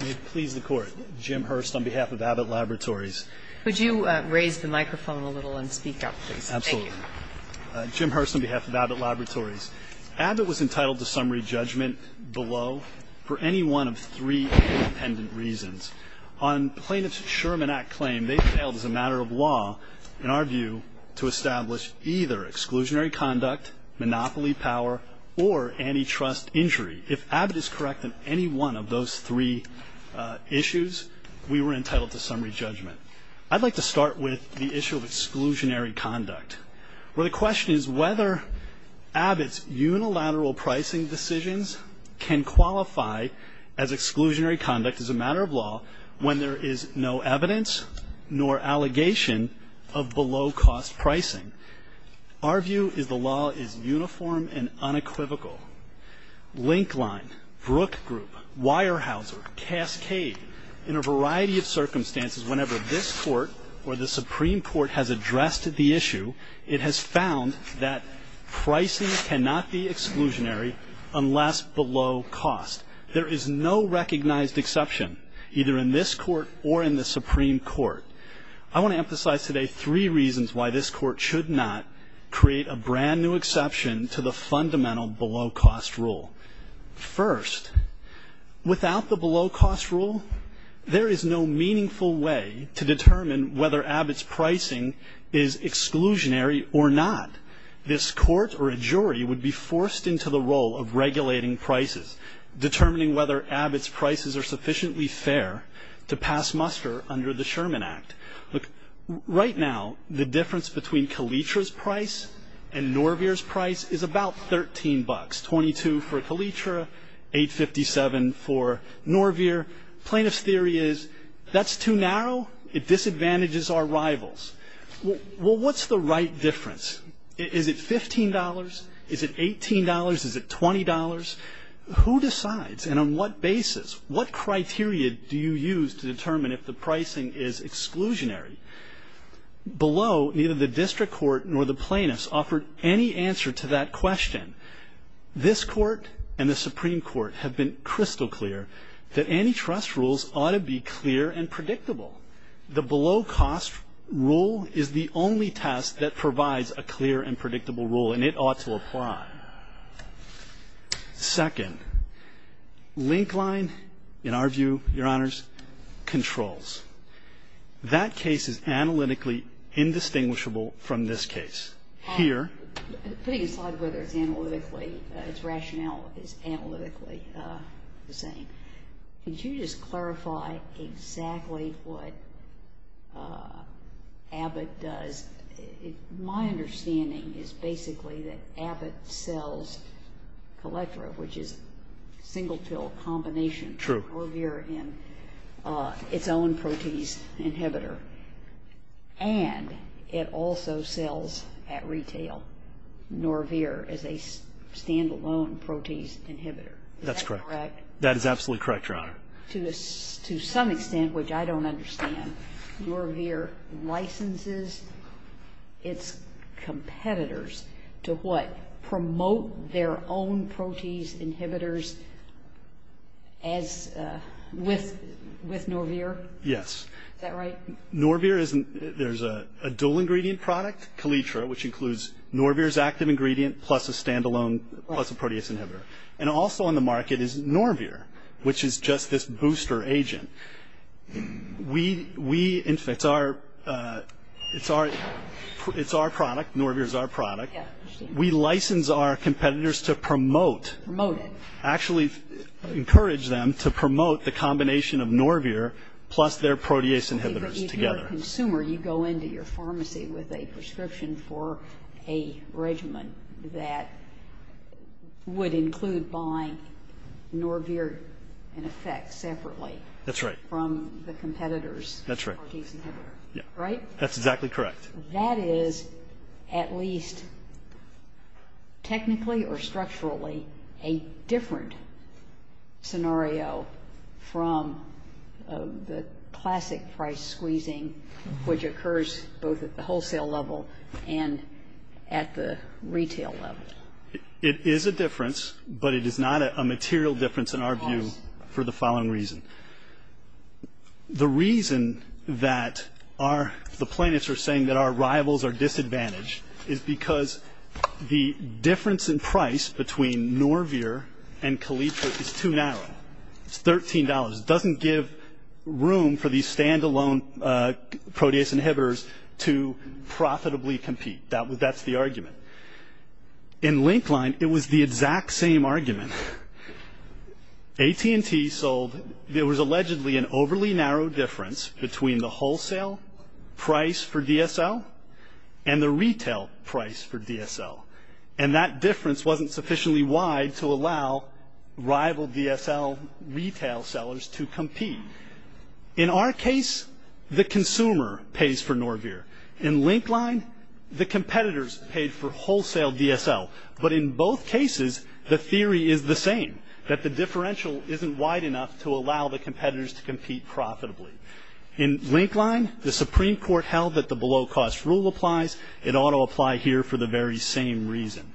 May it please the Court, Jim Hurst on behalf of Abbott Laboratories. Could you raise the microphone a little and speak up, please? Absolutely. Thank you. Jim Hurst on behalf of Abbott Laboratories. Abbott was entitled to summary judgment below for any one of three independent reasons. On Plaintiff's Sherman Act claim, they failed as a matter of law, in our view, to establish either exclusionary conduct, monopoly power, or antitrust injury. If Abbott is correct in any one of those three issues, we were entitled to summary judgment. I'd like to start with the issue of exclusionary conduct, where the question is whether Abbott's unilateral pricing decisions can qualify as exclusionary conduct as a matter of law when there is no evidence nor allegation of below-cost pricing. Our view is the law is uniform and unequivocal. Linkline, Brook Group, Weyerhaeuser, Cascade, in a variety of circumstances, whenever this Court or the Supreme Court has addressed the issue, it has found that pricing cannot be exclusionary unless below cost. There is no recognized exception, either in this Court or in the Supreme Court. I want to emphasize today three reasons why this Court should not create a brand-new exception to the fundamental below-cost rule. First, without the below-cost rule, there is no meaningful way to determine whether Abbott's pricing is exclusionary or not. This Court or a jury would be forced into the role of regulating prices, determining whether Abbott's prices are sufficiently fair to pass muster under the Sherman Act. Right now, the difference between Kalitra's price and Norveer's price is about $13. $22 for Kalitra, $8.57 for Norveer. Plaintiff's theory is that's too narrow. It disadvantages our rivals. Well, what's the right difference? Is it $15? Is it $18? Is it $20? Who decides, and on what basis, what criteria do you use to determine if the pricing is exclusionary? Below, neither the district court nor the plaintiffs offered any answer to that question. This Court and the Supreme Court have been crystal clear that antitrust rules ought to be clear and predictable. The below-cost rule is the only test that provides a clear and predictable rule, and it ought to apply. Second, link line, in our view, Your Honors, controls. That case is analytically indistinguishable from this case. Here. Putting aside whether it's analytically, its rationale is analytically the same, could you just clarify exactly what Abbott does? My understanding is basically that Abbott sells Colectra, which is a single pill combination. True. Norveer in its own protease inhibitor, and it also sells at retail Norveer as a stand-alone protease inhibitor. That's correct. Is that correct? That is absolutely correct, Your Honor. To some extent, which I don't understand, Norveer licenses its competitors to what? Promote their own protease inhibitors as with Norveer? Yes. Is that right? Norveer is a dual-ingredient product, Colectra, which includes Norveer's active ingredient plus a stand-alone, plus a protease inhibitor. And also on the market is Norveer, which is just this booster agent. We, in fact, it's our product, Norveer is our product. We license our competitors to promote, actually encourage them to promote the combination of Norveer plus their protease inhibitors together. As a consumer, you go into your pharmacy with a prescription for a regimen that would include buying Norveer in effect separately. That's right. From the competitors' protease inhibitors. That's right. Right? That's exactly correct. That is, at least technically or structurally, a different scenario from the classic price squeezing, which occurs both at the wholesale level and at the retail level. It is a difference, but it is not a material difference in our view for the following reason. The reason that our, the plaintiffs are saying that our rivals are disadvantaged is because the difference in price between Norveer and Kaletra is too narrow. It's $13. It doesn't give room for these stand-alone protease inhibitors to profitably compete. That's the argument. In Linkline, it was the exact same argument. AT&T sold, there was allegedly an overly narrow difference between the wholesale price for DSL and the retail price for DSL. And that difference wasn't sufficiently wide to allow rival DSL retail sellers to compete. In our case, the consumer pays for Norveer. In Linkline, the competitors paid for wholesale DSL. But in both cases, the theory is the same, that the differential isn't wide enough to allow the competitors to compete profitably. In Linkline, the Supreme Court held that the below-cost rule applies. It ought to apply here for the very same reason.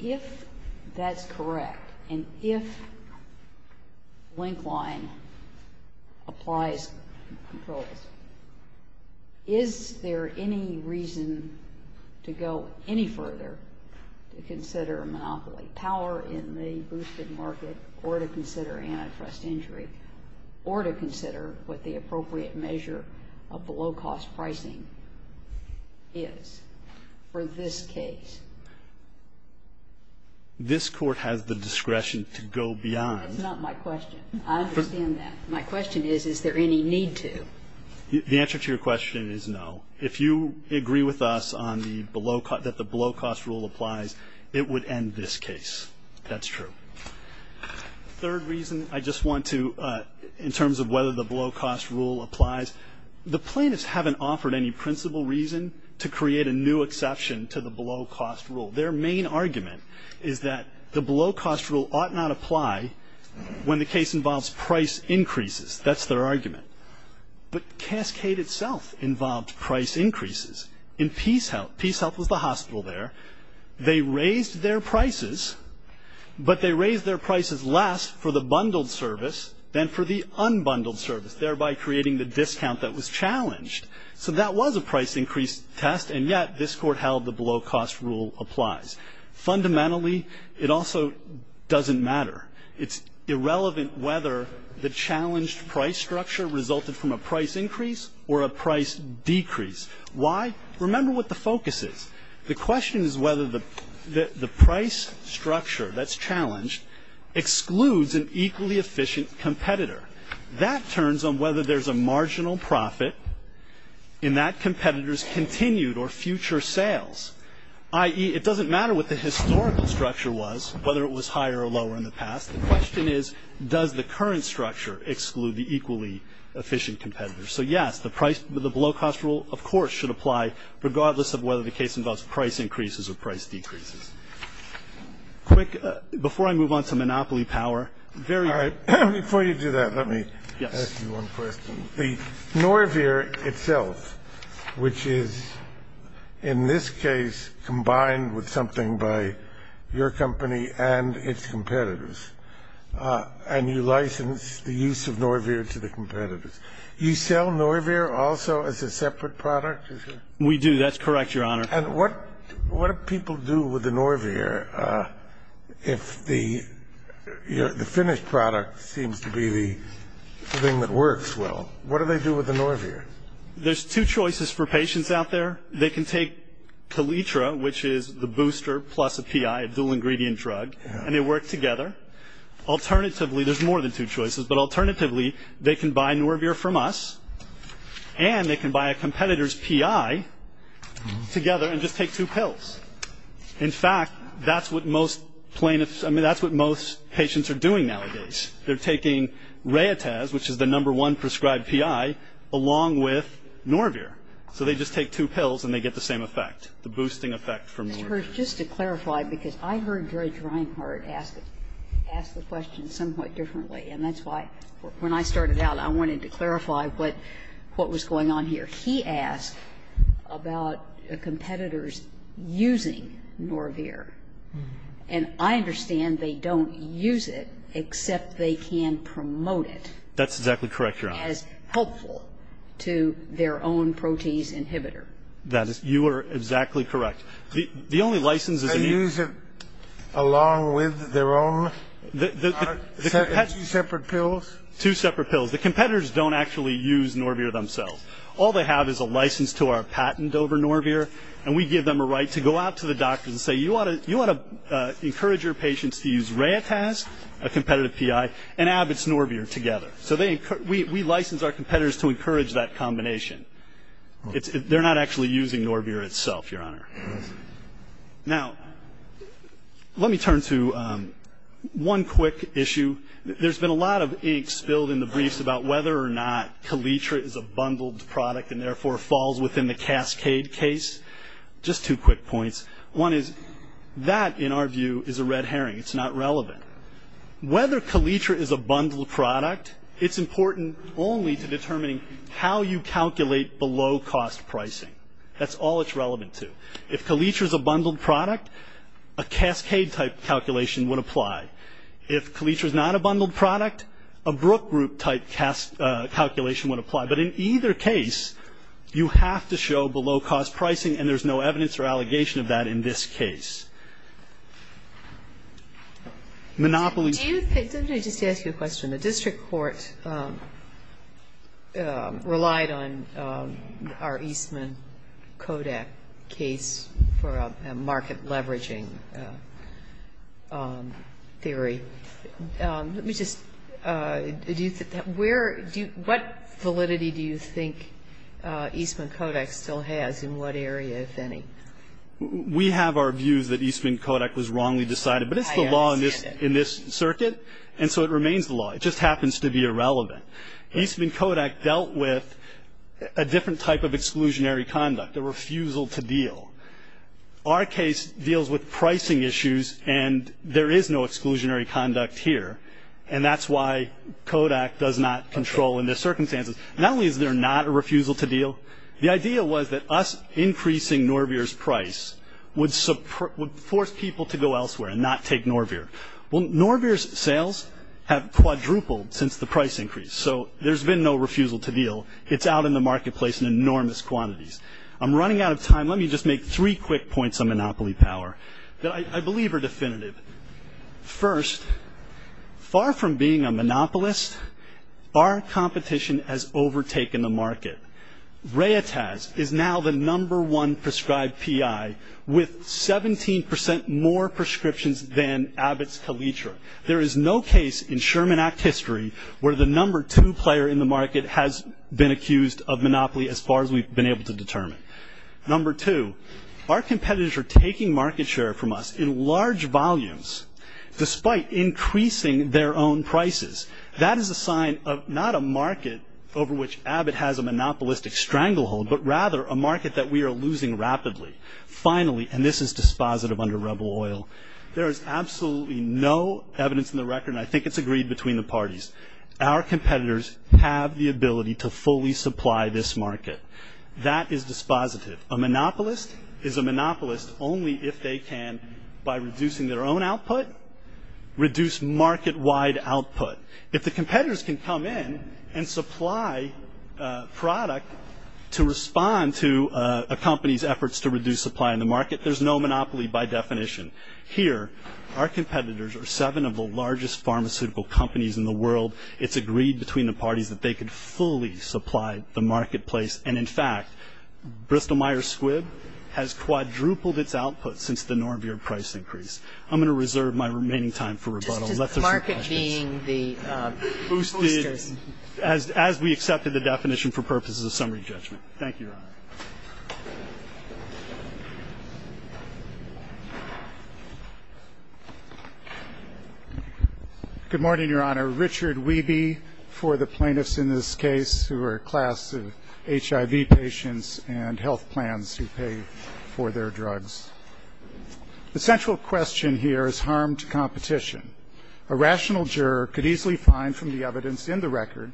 If that's correct, and if Linkline applies controls, is there any reason to go any further to consider a monopoly, power in the boosted market, or to consider antitrust injury, or to consider what the appropriate measure of below-cost pricing is for this case? This Court has the discretion to go beyond. That's not my question. I understand that. My question is, is there any need to? The answer to your question is no. If you agree with us that the below-cost rule applies, it would end this case. That's true. The third reason I just want to, in terms of whether the below-cost rule applies, the plaintiffs haven't offered any principal reason to create a new exception to the below-cost rule. Their main argument is that the below-cost rule ought not apply when the case involves price increases. That's their argument. But Cascade itself involved price increases. In PeaceHealth, PeaceHealth was the hospital there. They raised their prices, but they raised their prices less for the bundled service than for the unbundled service, thereby creating the discount that was challenged. So that was a price increase test, and yet this Court held the below-cost rule applies. Fundamentally, it also doesn't matter. It's irrelevant whether the challenged price structure resulted from a price increase or a price decrease. Why? Remember what the focus is. The question is whether the price structure that's challenged excludes an equally efficient competitor. That turns on whether there's a marginal profit in that competitor's continued or future sales, i.e., it doesn't matter what the historical structure was, whether it was higher or lower in the past. The question is, does the current structure exclude the equally efficient competitor? So, yes, the below-cost rule, of course, should apply, regardless of whether the case involves price increases or price decreases. Quick, before I move on to monopoly power. All right. Before you do that, let me ask you one question. The Norveer itself, which is, in this case, combined with something by your company and its competitors, and you license the use of Norveer to the competitors. You sell Norveer also as a separate product? We do. That's correct, Your Honor. And what do people do with the Norveer if the finished product seems to be the thing that works well? What do they do with the Norveer? There's two choices for patients out there. They can take Kaletra, which is the booster plus a PI, a dual-ingredient drug, and they work together. Alternatively, there's more than two choices, but alternatively they can buy Norveer from us and they can buy a competitor's PI together and just take two pills. In fact, that's what most patients are doing nowadays. They're taking Rayataz, which is the number one prescribed PI, along with Norveer. So they just take two pills and they get the same effect, the boosting effect from Norveer. Mr. Hirsch, just to clarify, because I heard George Reinhardt ask the question somewhat differently, and that's why, when I started out, I wanted to clarify what was going on here. He asked about competitors using Norveer. And I understand they don't use it, except they can promote it. That's exactly correct, Your Honor. As helpful to their own protease inhibitor. That is you are exactly correct. Two separate pills? Two separate pills. The competitors don't actually use Norveer themselves. All they have is a license to our patent over Norveer, and we give them a right to go out to the doctors and say, you want to encourage your patients to use Rayataz, a competitive PI, and Abbott's Norveer together. So we license our competitors to encourage that combination. They're not actually using Norveer itself, Your Honor. Now, let me turn to one quick issue. There's been a lot of ink spilled in the briefs about whether or not Kaletra is a bundled product and therefore falls within the Cascade case. Just two quick points. One is that, in our view, is a red herring. It's not relevant. Whether Kaletra is a bundled product, it's important only to determining how you calculate below-cost pricing. That's all it's relevant to. If Kaletra is a bundled product, a Cascade-type calculation would apply. If Kaletra is not a bundled product, a Brook Group-type calculation would apply. But in either case, you have to show below-cost pricing, and there's no evidence or allegation of that in this case. Monopoly. Let me just ask you a question. The district court relied on our Eastman-Kodak case for a market-leveraging theory. Let me just ask, what validity do you think Eastman-Kodak still has in what area, if any? We have our views that Eastman-Kodak was wrongly decided, but it's the law in this circuit, and so it remains the law. It just happens to be irrelevant. Eastman-Kodak dealt with a different type of exclusionary conduct, a refusal to deal. Our case deals with pricing issues, and there is no exclusionary conduct here, and that's why Kodak does not control in this circumstance. Not only is there not a refusal to deal, the idea was that us increasing Norbeer's price would force people to go elsewhere and not take Norbeer. Well, Norbeer's sales have quadrupled since the price increase, so there's been no refusal to deal. It's out in the marketplace in enormous quantities. I'm running out of time. Let me just make three quick points on monopoly power that I believe are definitive. First, far from being a monopolist, our competition has overtaken the market. Rayataz is now the number one prescribed PI with 17% more prescriptions than Abbott's Kalitra. There is no case in Sherman Act history where the number two player in the market has been accused of monopoly as far as we've been able to determine. Number two, our competitors are taking market share from us in large volumes, despite increasing their own prices. That is a sign of not a market over which Abbott has a monopolistic stranglehold, but rather a market that we are losing rapidly. Finally, and this is dispositive under rebel oil, there is absolutely no evidence in the record, and I think it's agreed between the parties, our competitors have the ability to fully supply this market. That is dispositive. A monopolist is a monopolist only if they can, by reducing their own output, reduce market-wide output. If the competitors can come in and supply product to respond to a company's efforts to reduce supply in the market, there's no monopoly by definition. Here, our competitors are seven of the largest pharmaceutical companies in the world. It's agreed between the parties that they can fully supply the marketplace, and, in fact, Bristol-Myers Squibb has quadrupled its output since the Norveer price increase. I'm going to reserve my remaining time for rebuttal. Let those be questions. As we accepted the definition for purposes of summary judgment. Thank you, Your Honor. Good morning, Your Honor. Richard Wiebe for the plaintiffs in this case who are a class of HIV patients and health plans who pay for their drugs. The central question here is harmed competition. A rational juror could easily find from the evidence in the record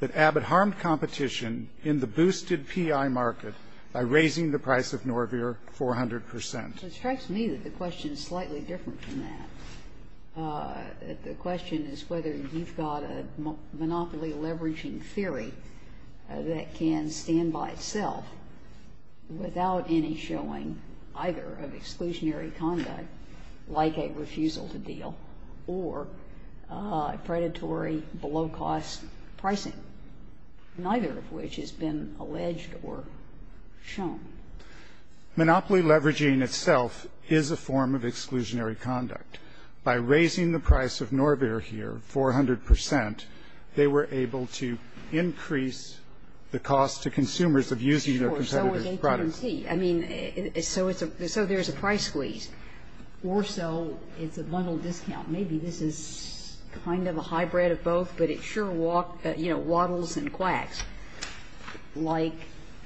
that Abbott harmed competition in the boosted P.I. market by raising the price of Norveer 400 percent. It strikes me that the question is slightly different from that. The question is whether you've got a monopoly-leveraging theory that can stand by itself without any showing either of exclusionary conduct like a refusal to deal or predatory below-cost pricing, neither of which has been alleged or shown. Monopoly leveraging itself is a form of exclusionary conduct. By raising the price of Norveer here 400 percent, they were able to increase the cost to consumers of using their competitive products. Sure. So was AT&T. I mean, so there's a price squeeze. Or so it's a bundle discount. Maybe this is kind of a hybrid of both, but it sure waddles and quacks like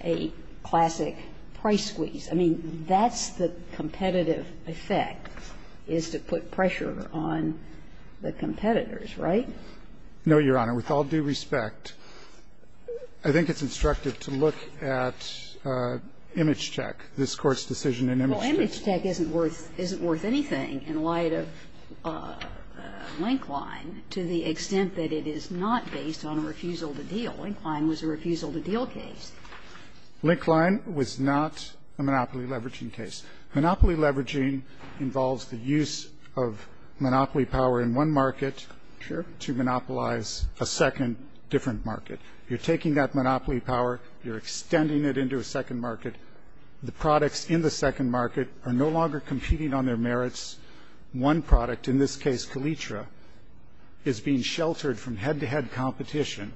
a classic price squeeze. I mean, that's the competitive effect, is to put pressure on the competitors, right? No, Your Honor. With all due respect, I think it's instructive to look at ImageCheck, this Court's decision in ImageCheck. Well, ImageCheck isn't worth anything in light of Linkline to the extent that it is not based on a refusal to deal. Linkline was a refusal-to-deal case. Linkline was not a monopoly-leveraging case. Monopoly leveraging involves the use of monopoly power in one market to monopolize a second, different market. You're taking that monopoly power, you're extending it into a second market. The products in the second market are no longer competing on their merits. One product, in this case Kalitra, is being sheltered from head-to-head competition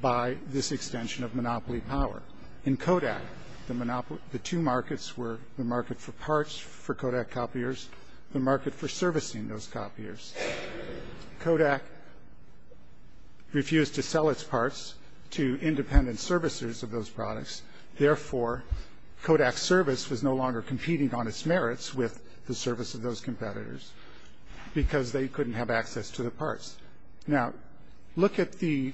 by this extension of monopoly power. In Kodak, the two markets were the market for parts for Kodak copiers, the market for servicing those copiers. Kodak refused to sell its parts to independent servicers of those products. Therefore, Kodak's service was no longer competing on its merits with the service of those competitors because they couldn't have access to the parts. Now, look at the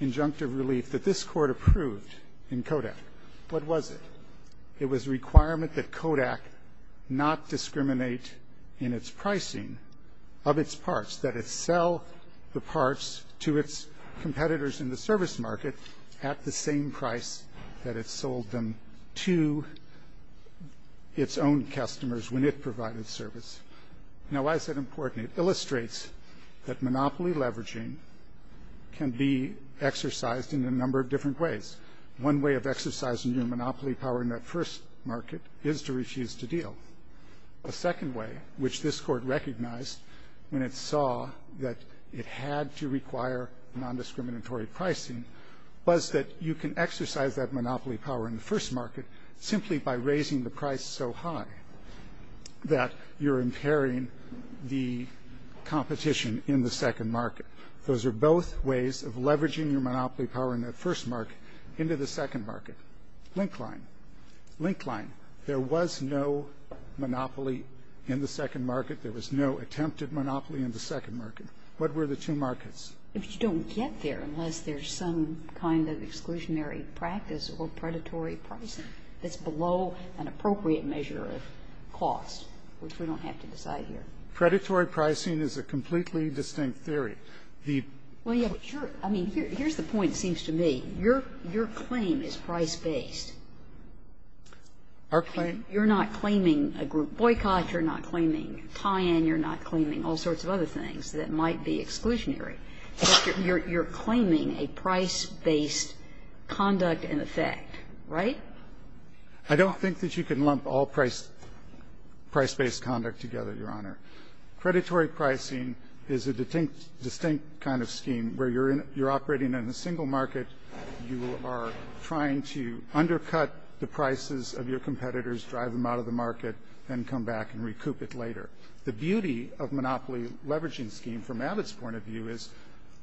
injunctive relief that this Court approved in Kodak. What was it? It was a requirement that Kodak not discriminate in its pricing of its parts, that it sell the parts to its competitors in the service market at the same price that it sold them to its own customers when it provided service. Now, why is that important? It illustrates that monopoly leveraging can be exercised in a number of different ways. One way of exercising your monopoly power in that first market is to refuse to deal. A second way, which this Court recognized when it saw that it had to require non-discriminatory pricing, was that you can exercise that monopoly power in the price so high that you're impairing the competition in the second market. Those are both ways of leveraging your monopoly power in that first market into the second market. Link line. Link line. There was no monopoly in the second market. There was no attempted monopoly in the second market. What were the two markets? If you don't get there unless there's some kind of exclusionary practice or predatory pricing that's below an appropriate measure of cost, which we don't have to decide here. Predatory pricing is a completely distinct theory. The ---- Well, yeah, but you're ---- I mean, here's the point, it seems to me. Your claim is price-based. Our claim? You're not claiming a group boycott. You're not claiming tie-in. You're not claiming all sorts of other things that might be exclusionary. You're claiming a price-based conduct in effect, right? I don't think that you can lump all price-based conduct together, Your Honor. Predatory pricing is a distinct kind of scheme where you're operating in a single market, you are trying to undercut the prices of your competitors, drive them out of the market, then come back and recoup it later. The beauty of monopoly leveraging scheme from Abbott's point of view is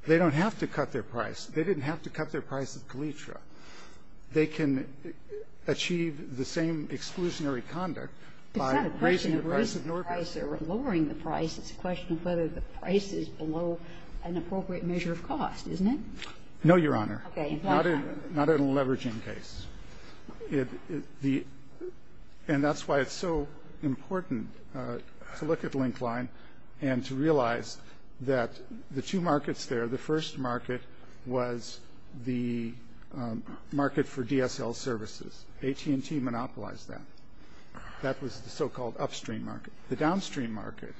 they don't have to cut their price. They didn't have to cut their price at Calitra. They can achieve the same exclusionary conduct by raising the price of Norco. It's not a question of raising the price or lowering the price. It's a question of whether the price is below an appropriate measure of cost, isn't it? No, Your Honor. Not in a leveraging case. And that's why it's so important to look at Linkline and to realize that the two markets there, the first market was the market for DSL services. AT&T monopolized that. That was the so-called upstream market. The downstream market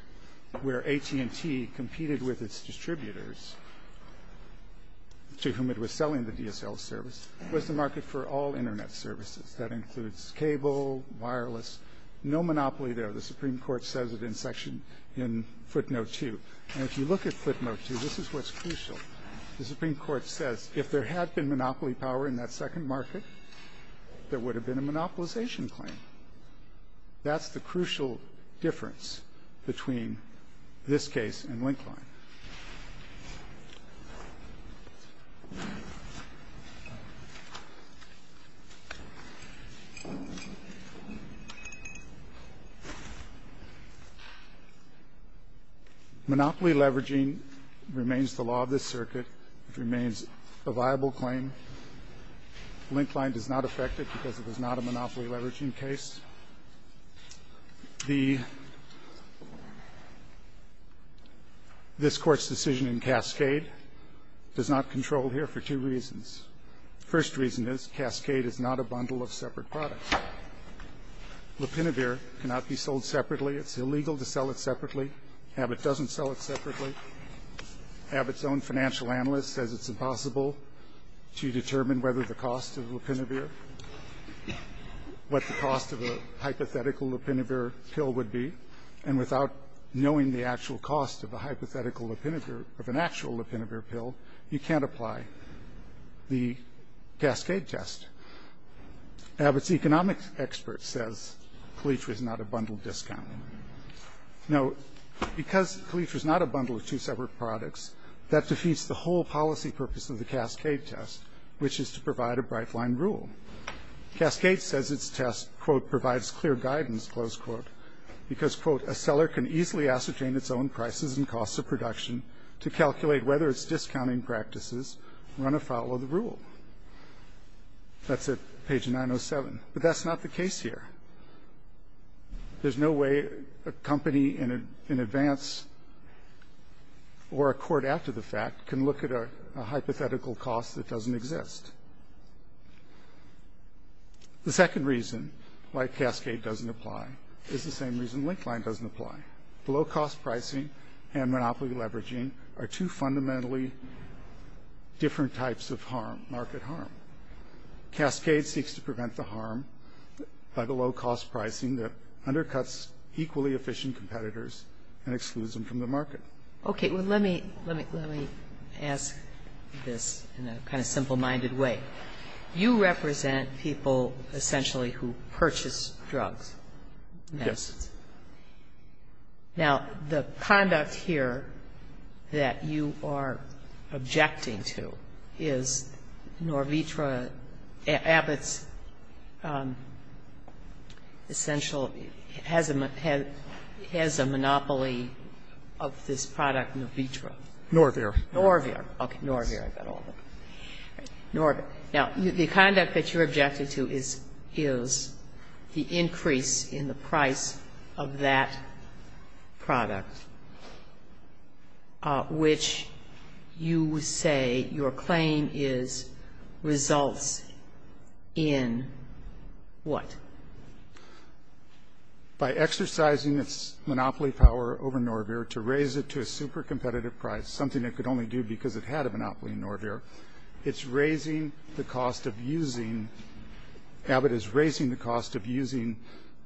where AT&T competed with its distributors to whom it was providing Internet services. That includes cable, wireless, no monopoly there. The Supreme Court says it in section in footnote 2. And if you look at footnote 2, this is what's crucial. The Supreme Court says if there had been monopoly power in that second market, there would have been a monopolization claim. That's the crucial difference between this case and Linkline. Monopoly leveraging remains the law of this circuit. It remains a viable claim. Linkline does not affect it because it is not a monopoly leveraging case. The this Court's decision in Cascade does not control here for two reasons. The first reason is Cascade is not a bundle of separate products. Lopinavir cannot be sold separately. It's illegal to sell it separately. Abbott doesn't sell it separately. Abbott's own financial analyst says it's impossible to determine whether the cost of Lopinavir, what the cost of a hypothetical Lopinavir pill would be. And without knowing the actual cost of a hypothetical Lopinavir, of an actual Lopinavir pill, you can't apply the Cascade test. Abbott's economic expert says Calitra is not a bundle discount. Now, because Calitra is not a bundle of two separate products, that defeats the whole policy purpose of the Cascade test, which is to provide a bright line rule. Cascade says its test, quote, provides clear guidance, close quote, because, quote, a seller can easily ascertain its own prices and costs of production to calculate whether its discounting practices run afoul of the rule. That's at page 907. But that's not the case here. There's no way a company in advance or a court after the fact can look at a hypothetical cost that doesn't exist. The second reason why Cascade doesn't apply is the same reason Linkline doesn't apply. The low-cost pricing and monopoly leveraging are two fundamentally different types of harm, market harm. Cascade seeks to prevent the harm by the low-cost pricing that undercuts equally efficient competitors and excludes them from the market. Sotomayor Okay. Well, let me ask this in a kind of simple-minded way. You represent people essentially who purchase drugs, medicines. Now, the conduct here that you are objecting to is Norvitra, Abbott's essential has a monopoly of this product, Norvitra. Norvitra. Norvitra. Okay. Norvitra. Now, the conduct that you're objecting to is the increase in the price of that product, which you say your claim is results in what? By exercising its monopoly power over Norvitra to raise it to a super competitive price, something it could only do because it had a monopoly in Norvitra, it's raising the cost of using, Abbott is raising the cost of using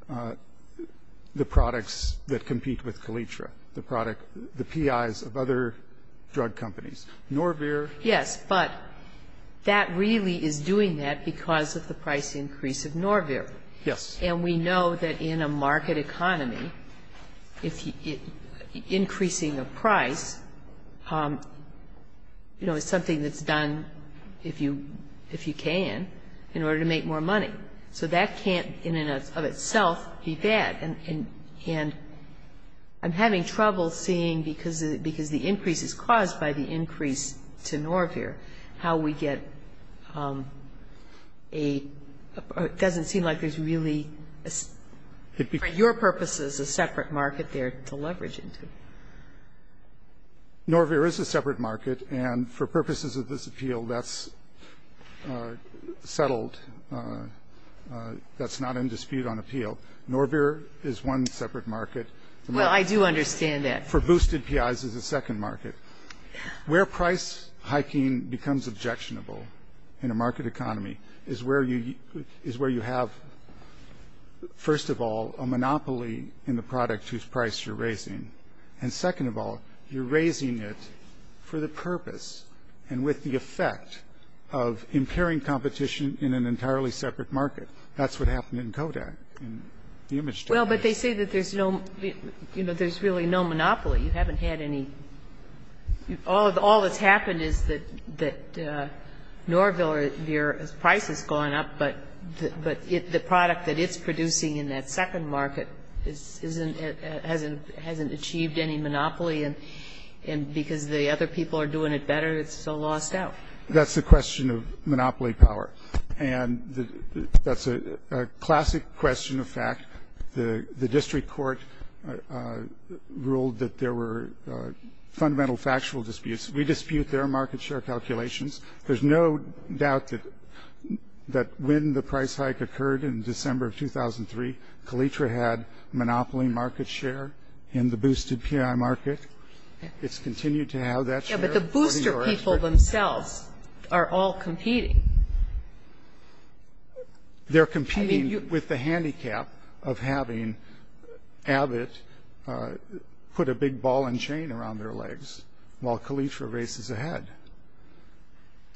the products that compete with Kalitra, the product, the PIs of other drug companies. Norvitra. Yes, but that really is doing that because of the price increase of Norvitra. Yes. And we know that in a market economy, increasing a price, you know, is something that's done if you can in order to make more money. So that can't in and of itself be bad. And I'm having trouble seeing, because the increase is caused by the increase to Norvir, how we get a doesn't seem like there's really, for your purposes, a separate market there to leverage into. Norvir is a separate market, and for purposes of this appeal, that's settled. That's not in dispute on appeal. Norvir is one separate market. Well, I do understand that. For boosted PIs is a second market. Where price hiking becomes objectionable in a market economy is where you have, first of all, a monopoly in the product whose price you're raising. And second of all, you're raising it for the purpose and with the effect of impairing competition in an entirely separate market. That's what happened in Kodak, in the image data. Well, but they say that there's no, you know, there's really no monopoly. You haven't had any. All that's happened is that Norvir's price has gone up, but the product that it's producing in that second market hasn't achieved any monopoly. And because the other people are doing it better, it's so lost out. That's the question of monopoly power. And that's a classic question of fact. The district court ruled that there were fundamental factual disputes. We dispute their market share calculations. There's no doubt that when the price hike occurred in December of 2003, Calitra had monopoly market share in the boosted PI market. It's continued to have that share. But the booster people themselves are all competing. They're competing with the handicap of having Abbott put a big ball and chain around their legs while Calitra races ahead.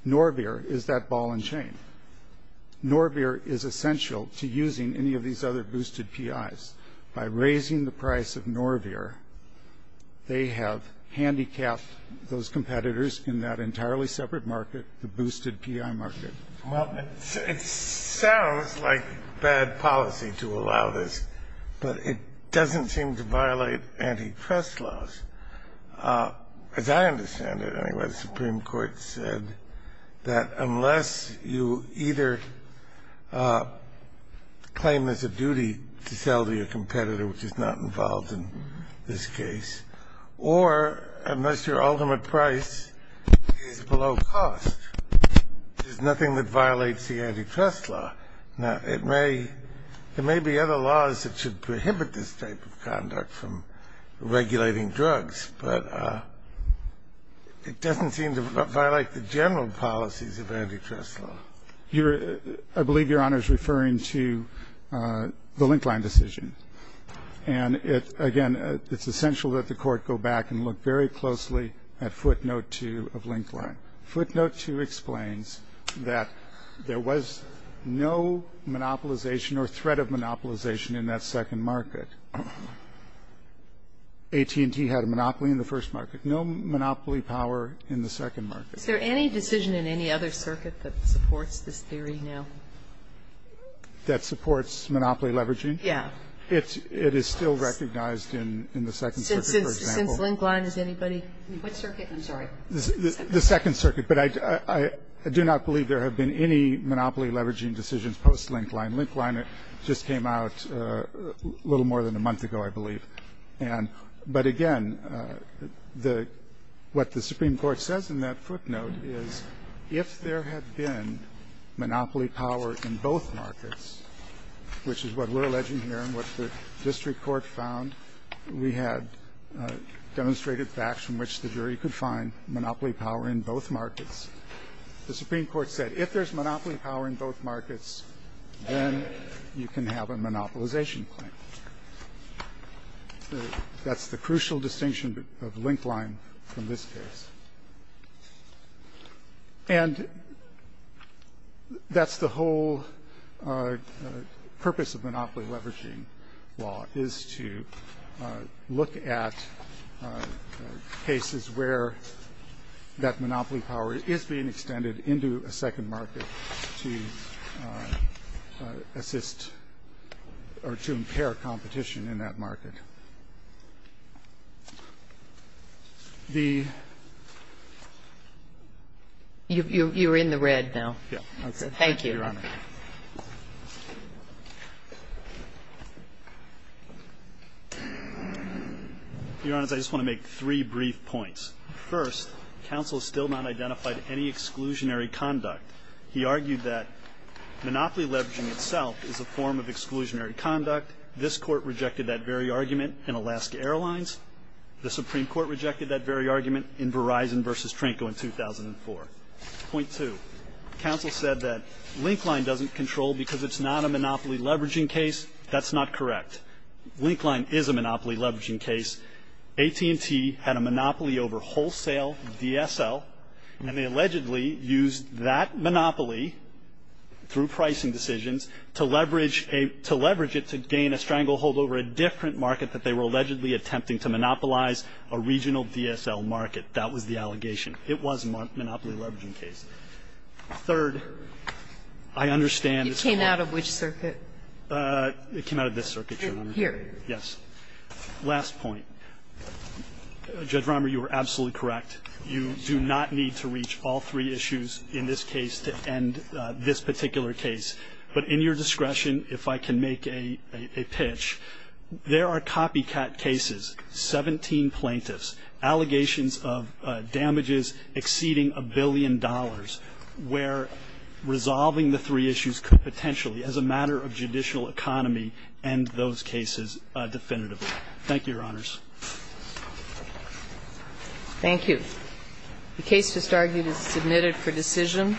Norvir is that ball and chain. Norvir is essential to using any of these other boosted PIs. By raising the price of Norvir, they have handicapped those competitors in that entirely separate market, the boosted PI market. Well, it sounds like bad policy to allow this, but it doesn't seem to violate antitrust laws. As I understand it, anyway, the Supreme Court said that unless you either claim there's a duty to sell the competitor, which is not involved in this case, or unless your ultimate price is below cost, there's nothing that violates the antitrust law. Now, there may be other laws that should prohibit this type of conduct from regulating drugs, but it doesn't seem to violate the general policies of antitrust law. I believe Your Honor is referring to the Linkline decision. And, again, it's essential that the Court go back and look very closely at footnote 2 of Linkline. Footnote 2 explains that there was no monopolization or threat of monopolization in that second market. AT&T had a monopoly in the first market. No monopoly power in the second market. Is there any decision in any other circuit that supports this theory now? That supports monopoly leveraging? Yeah. It is still recognized in the second circuit, for example. Since Linkline, has anybody? Which circuit? I'm sorry. The second circuit. But I do not believe there have been any monopoly leveraging decisions post-Linkline. Linkline just came out a little more than a month ago, I believe. But, again, what the Supreme Court says in that footnote is if there had been monopoly power in both markets, which is what we're alleging here and what the district court found, we had demonstrated facts from which the jury could find monopoly power in both markets. The Supreme Court said if there's monopoly power in both markets, then you can have a monopolization claim. That's the crucial distinction of Linkline from this case. And that's the whole purpose of monopoly leveraging law is to look at cases where that monopoly power is being extended into a second market to assist or to impair competition in that market. You're in the red now. Thank you. Your Honor. Your Honor, I just want to make three brief points. First, counsel still not identified any exclusionary conduct. He argued that monopoly leveraging itself is a form of exclusionary conduct. This court rejected that very argument in Alaska Airlines. The Supreme Court rejected that very argument in Verizon versus Tranco in 2004. Point two, counsel said that Linkline doesn't control because it's not a monopoly leveraging case. That's not correct. Linkline is a monopoly leveraging case. AT&T had a monopoly over wholesale DSL, and they allegedly used that monopoly through pricing decisions to leverage it to gain a stranglehold over a different market that they were allegedly attempting to monopolize, a regional DSL market. That was the allegation. It was a monopoly leveraging case. Third, I understand this Court ---- It came out of which circuit? It came out of this circuit, Your Honor. Here. Yes. Last point. Judge Romer, you are absolutely correct. You do not need to reach all three issues in this case to end this particular case. But in your discretion, if I can make a pitch, there are copycat cases, 17 plaintiffs, allegations of damages exceeding a billion dollars, where resolving the three issues could potentially, as a matter of judicial economy, end those cases definitively. Thank you, Your Honors. Thank you. The case just argued is submitted for decision.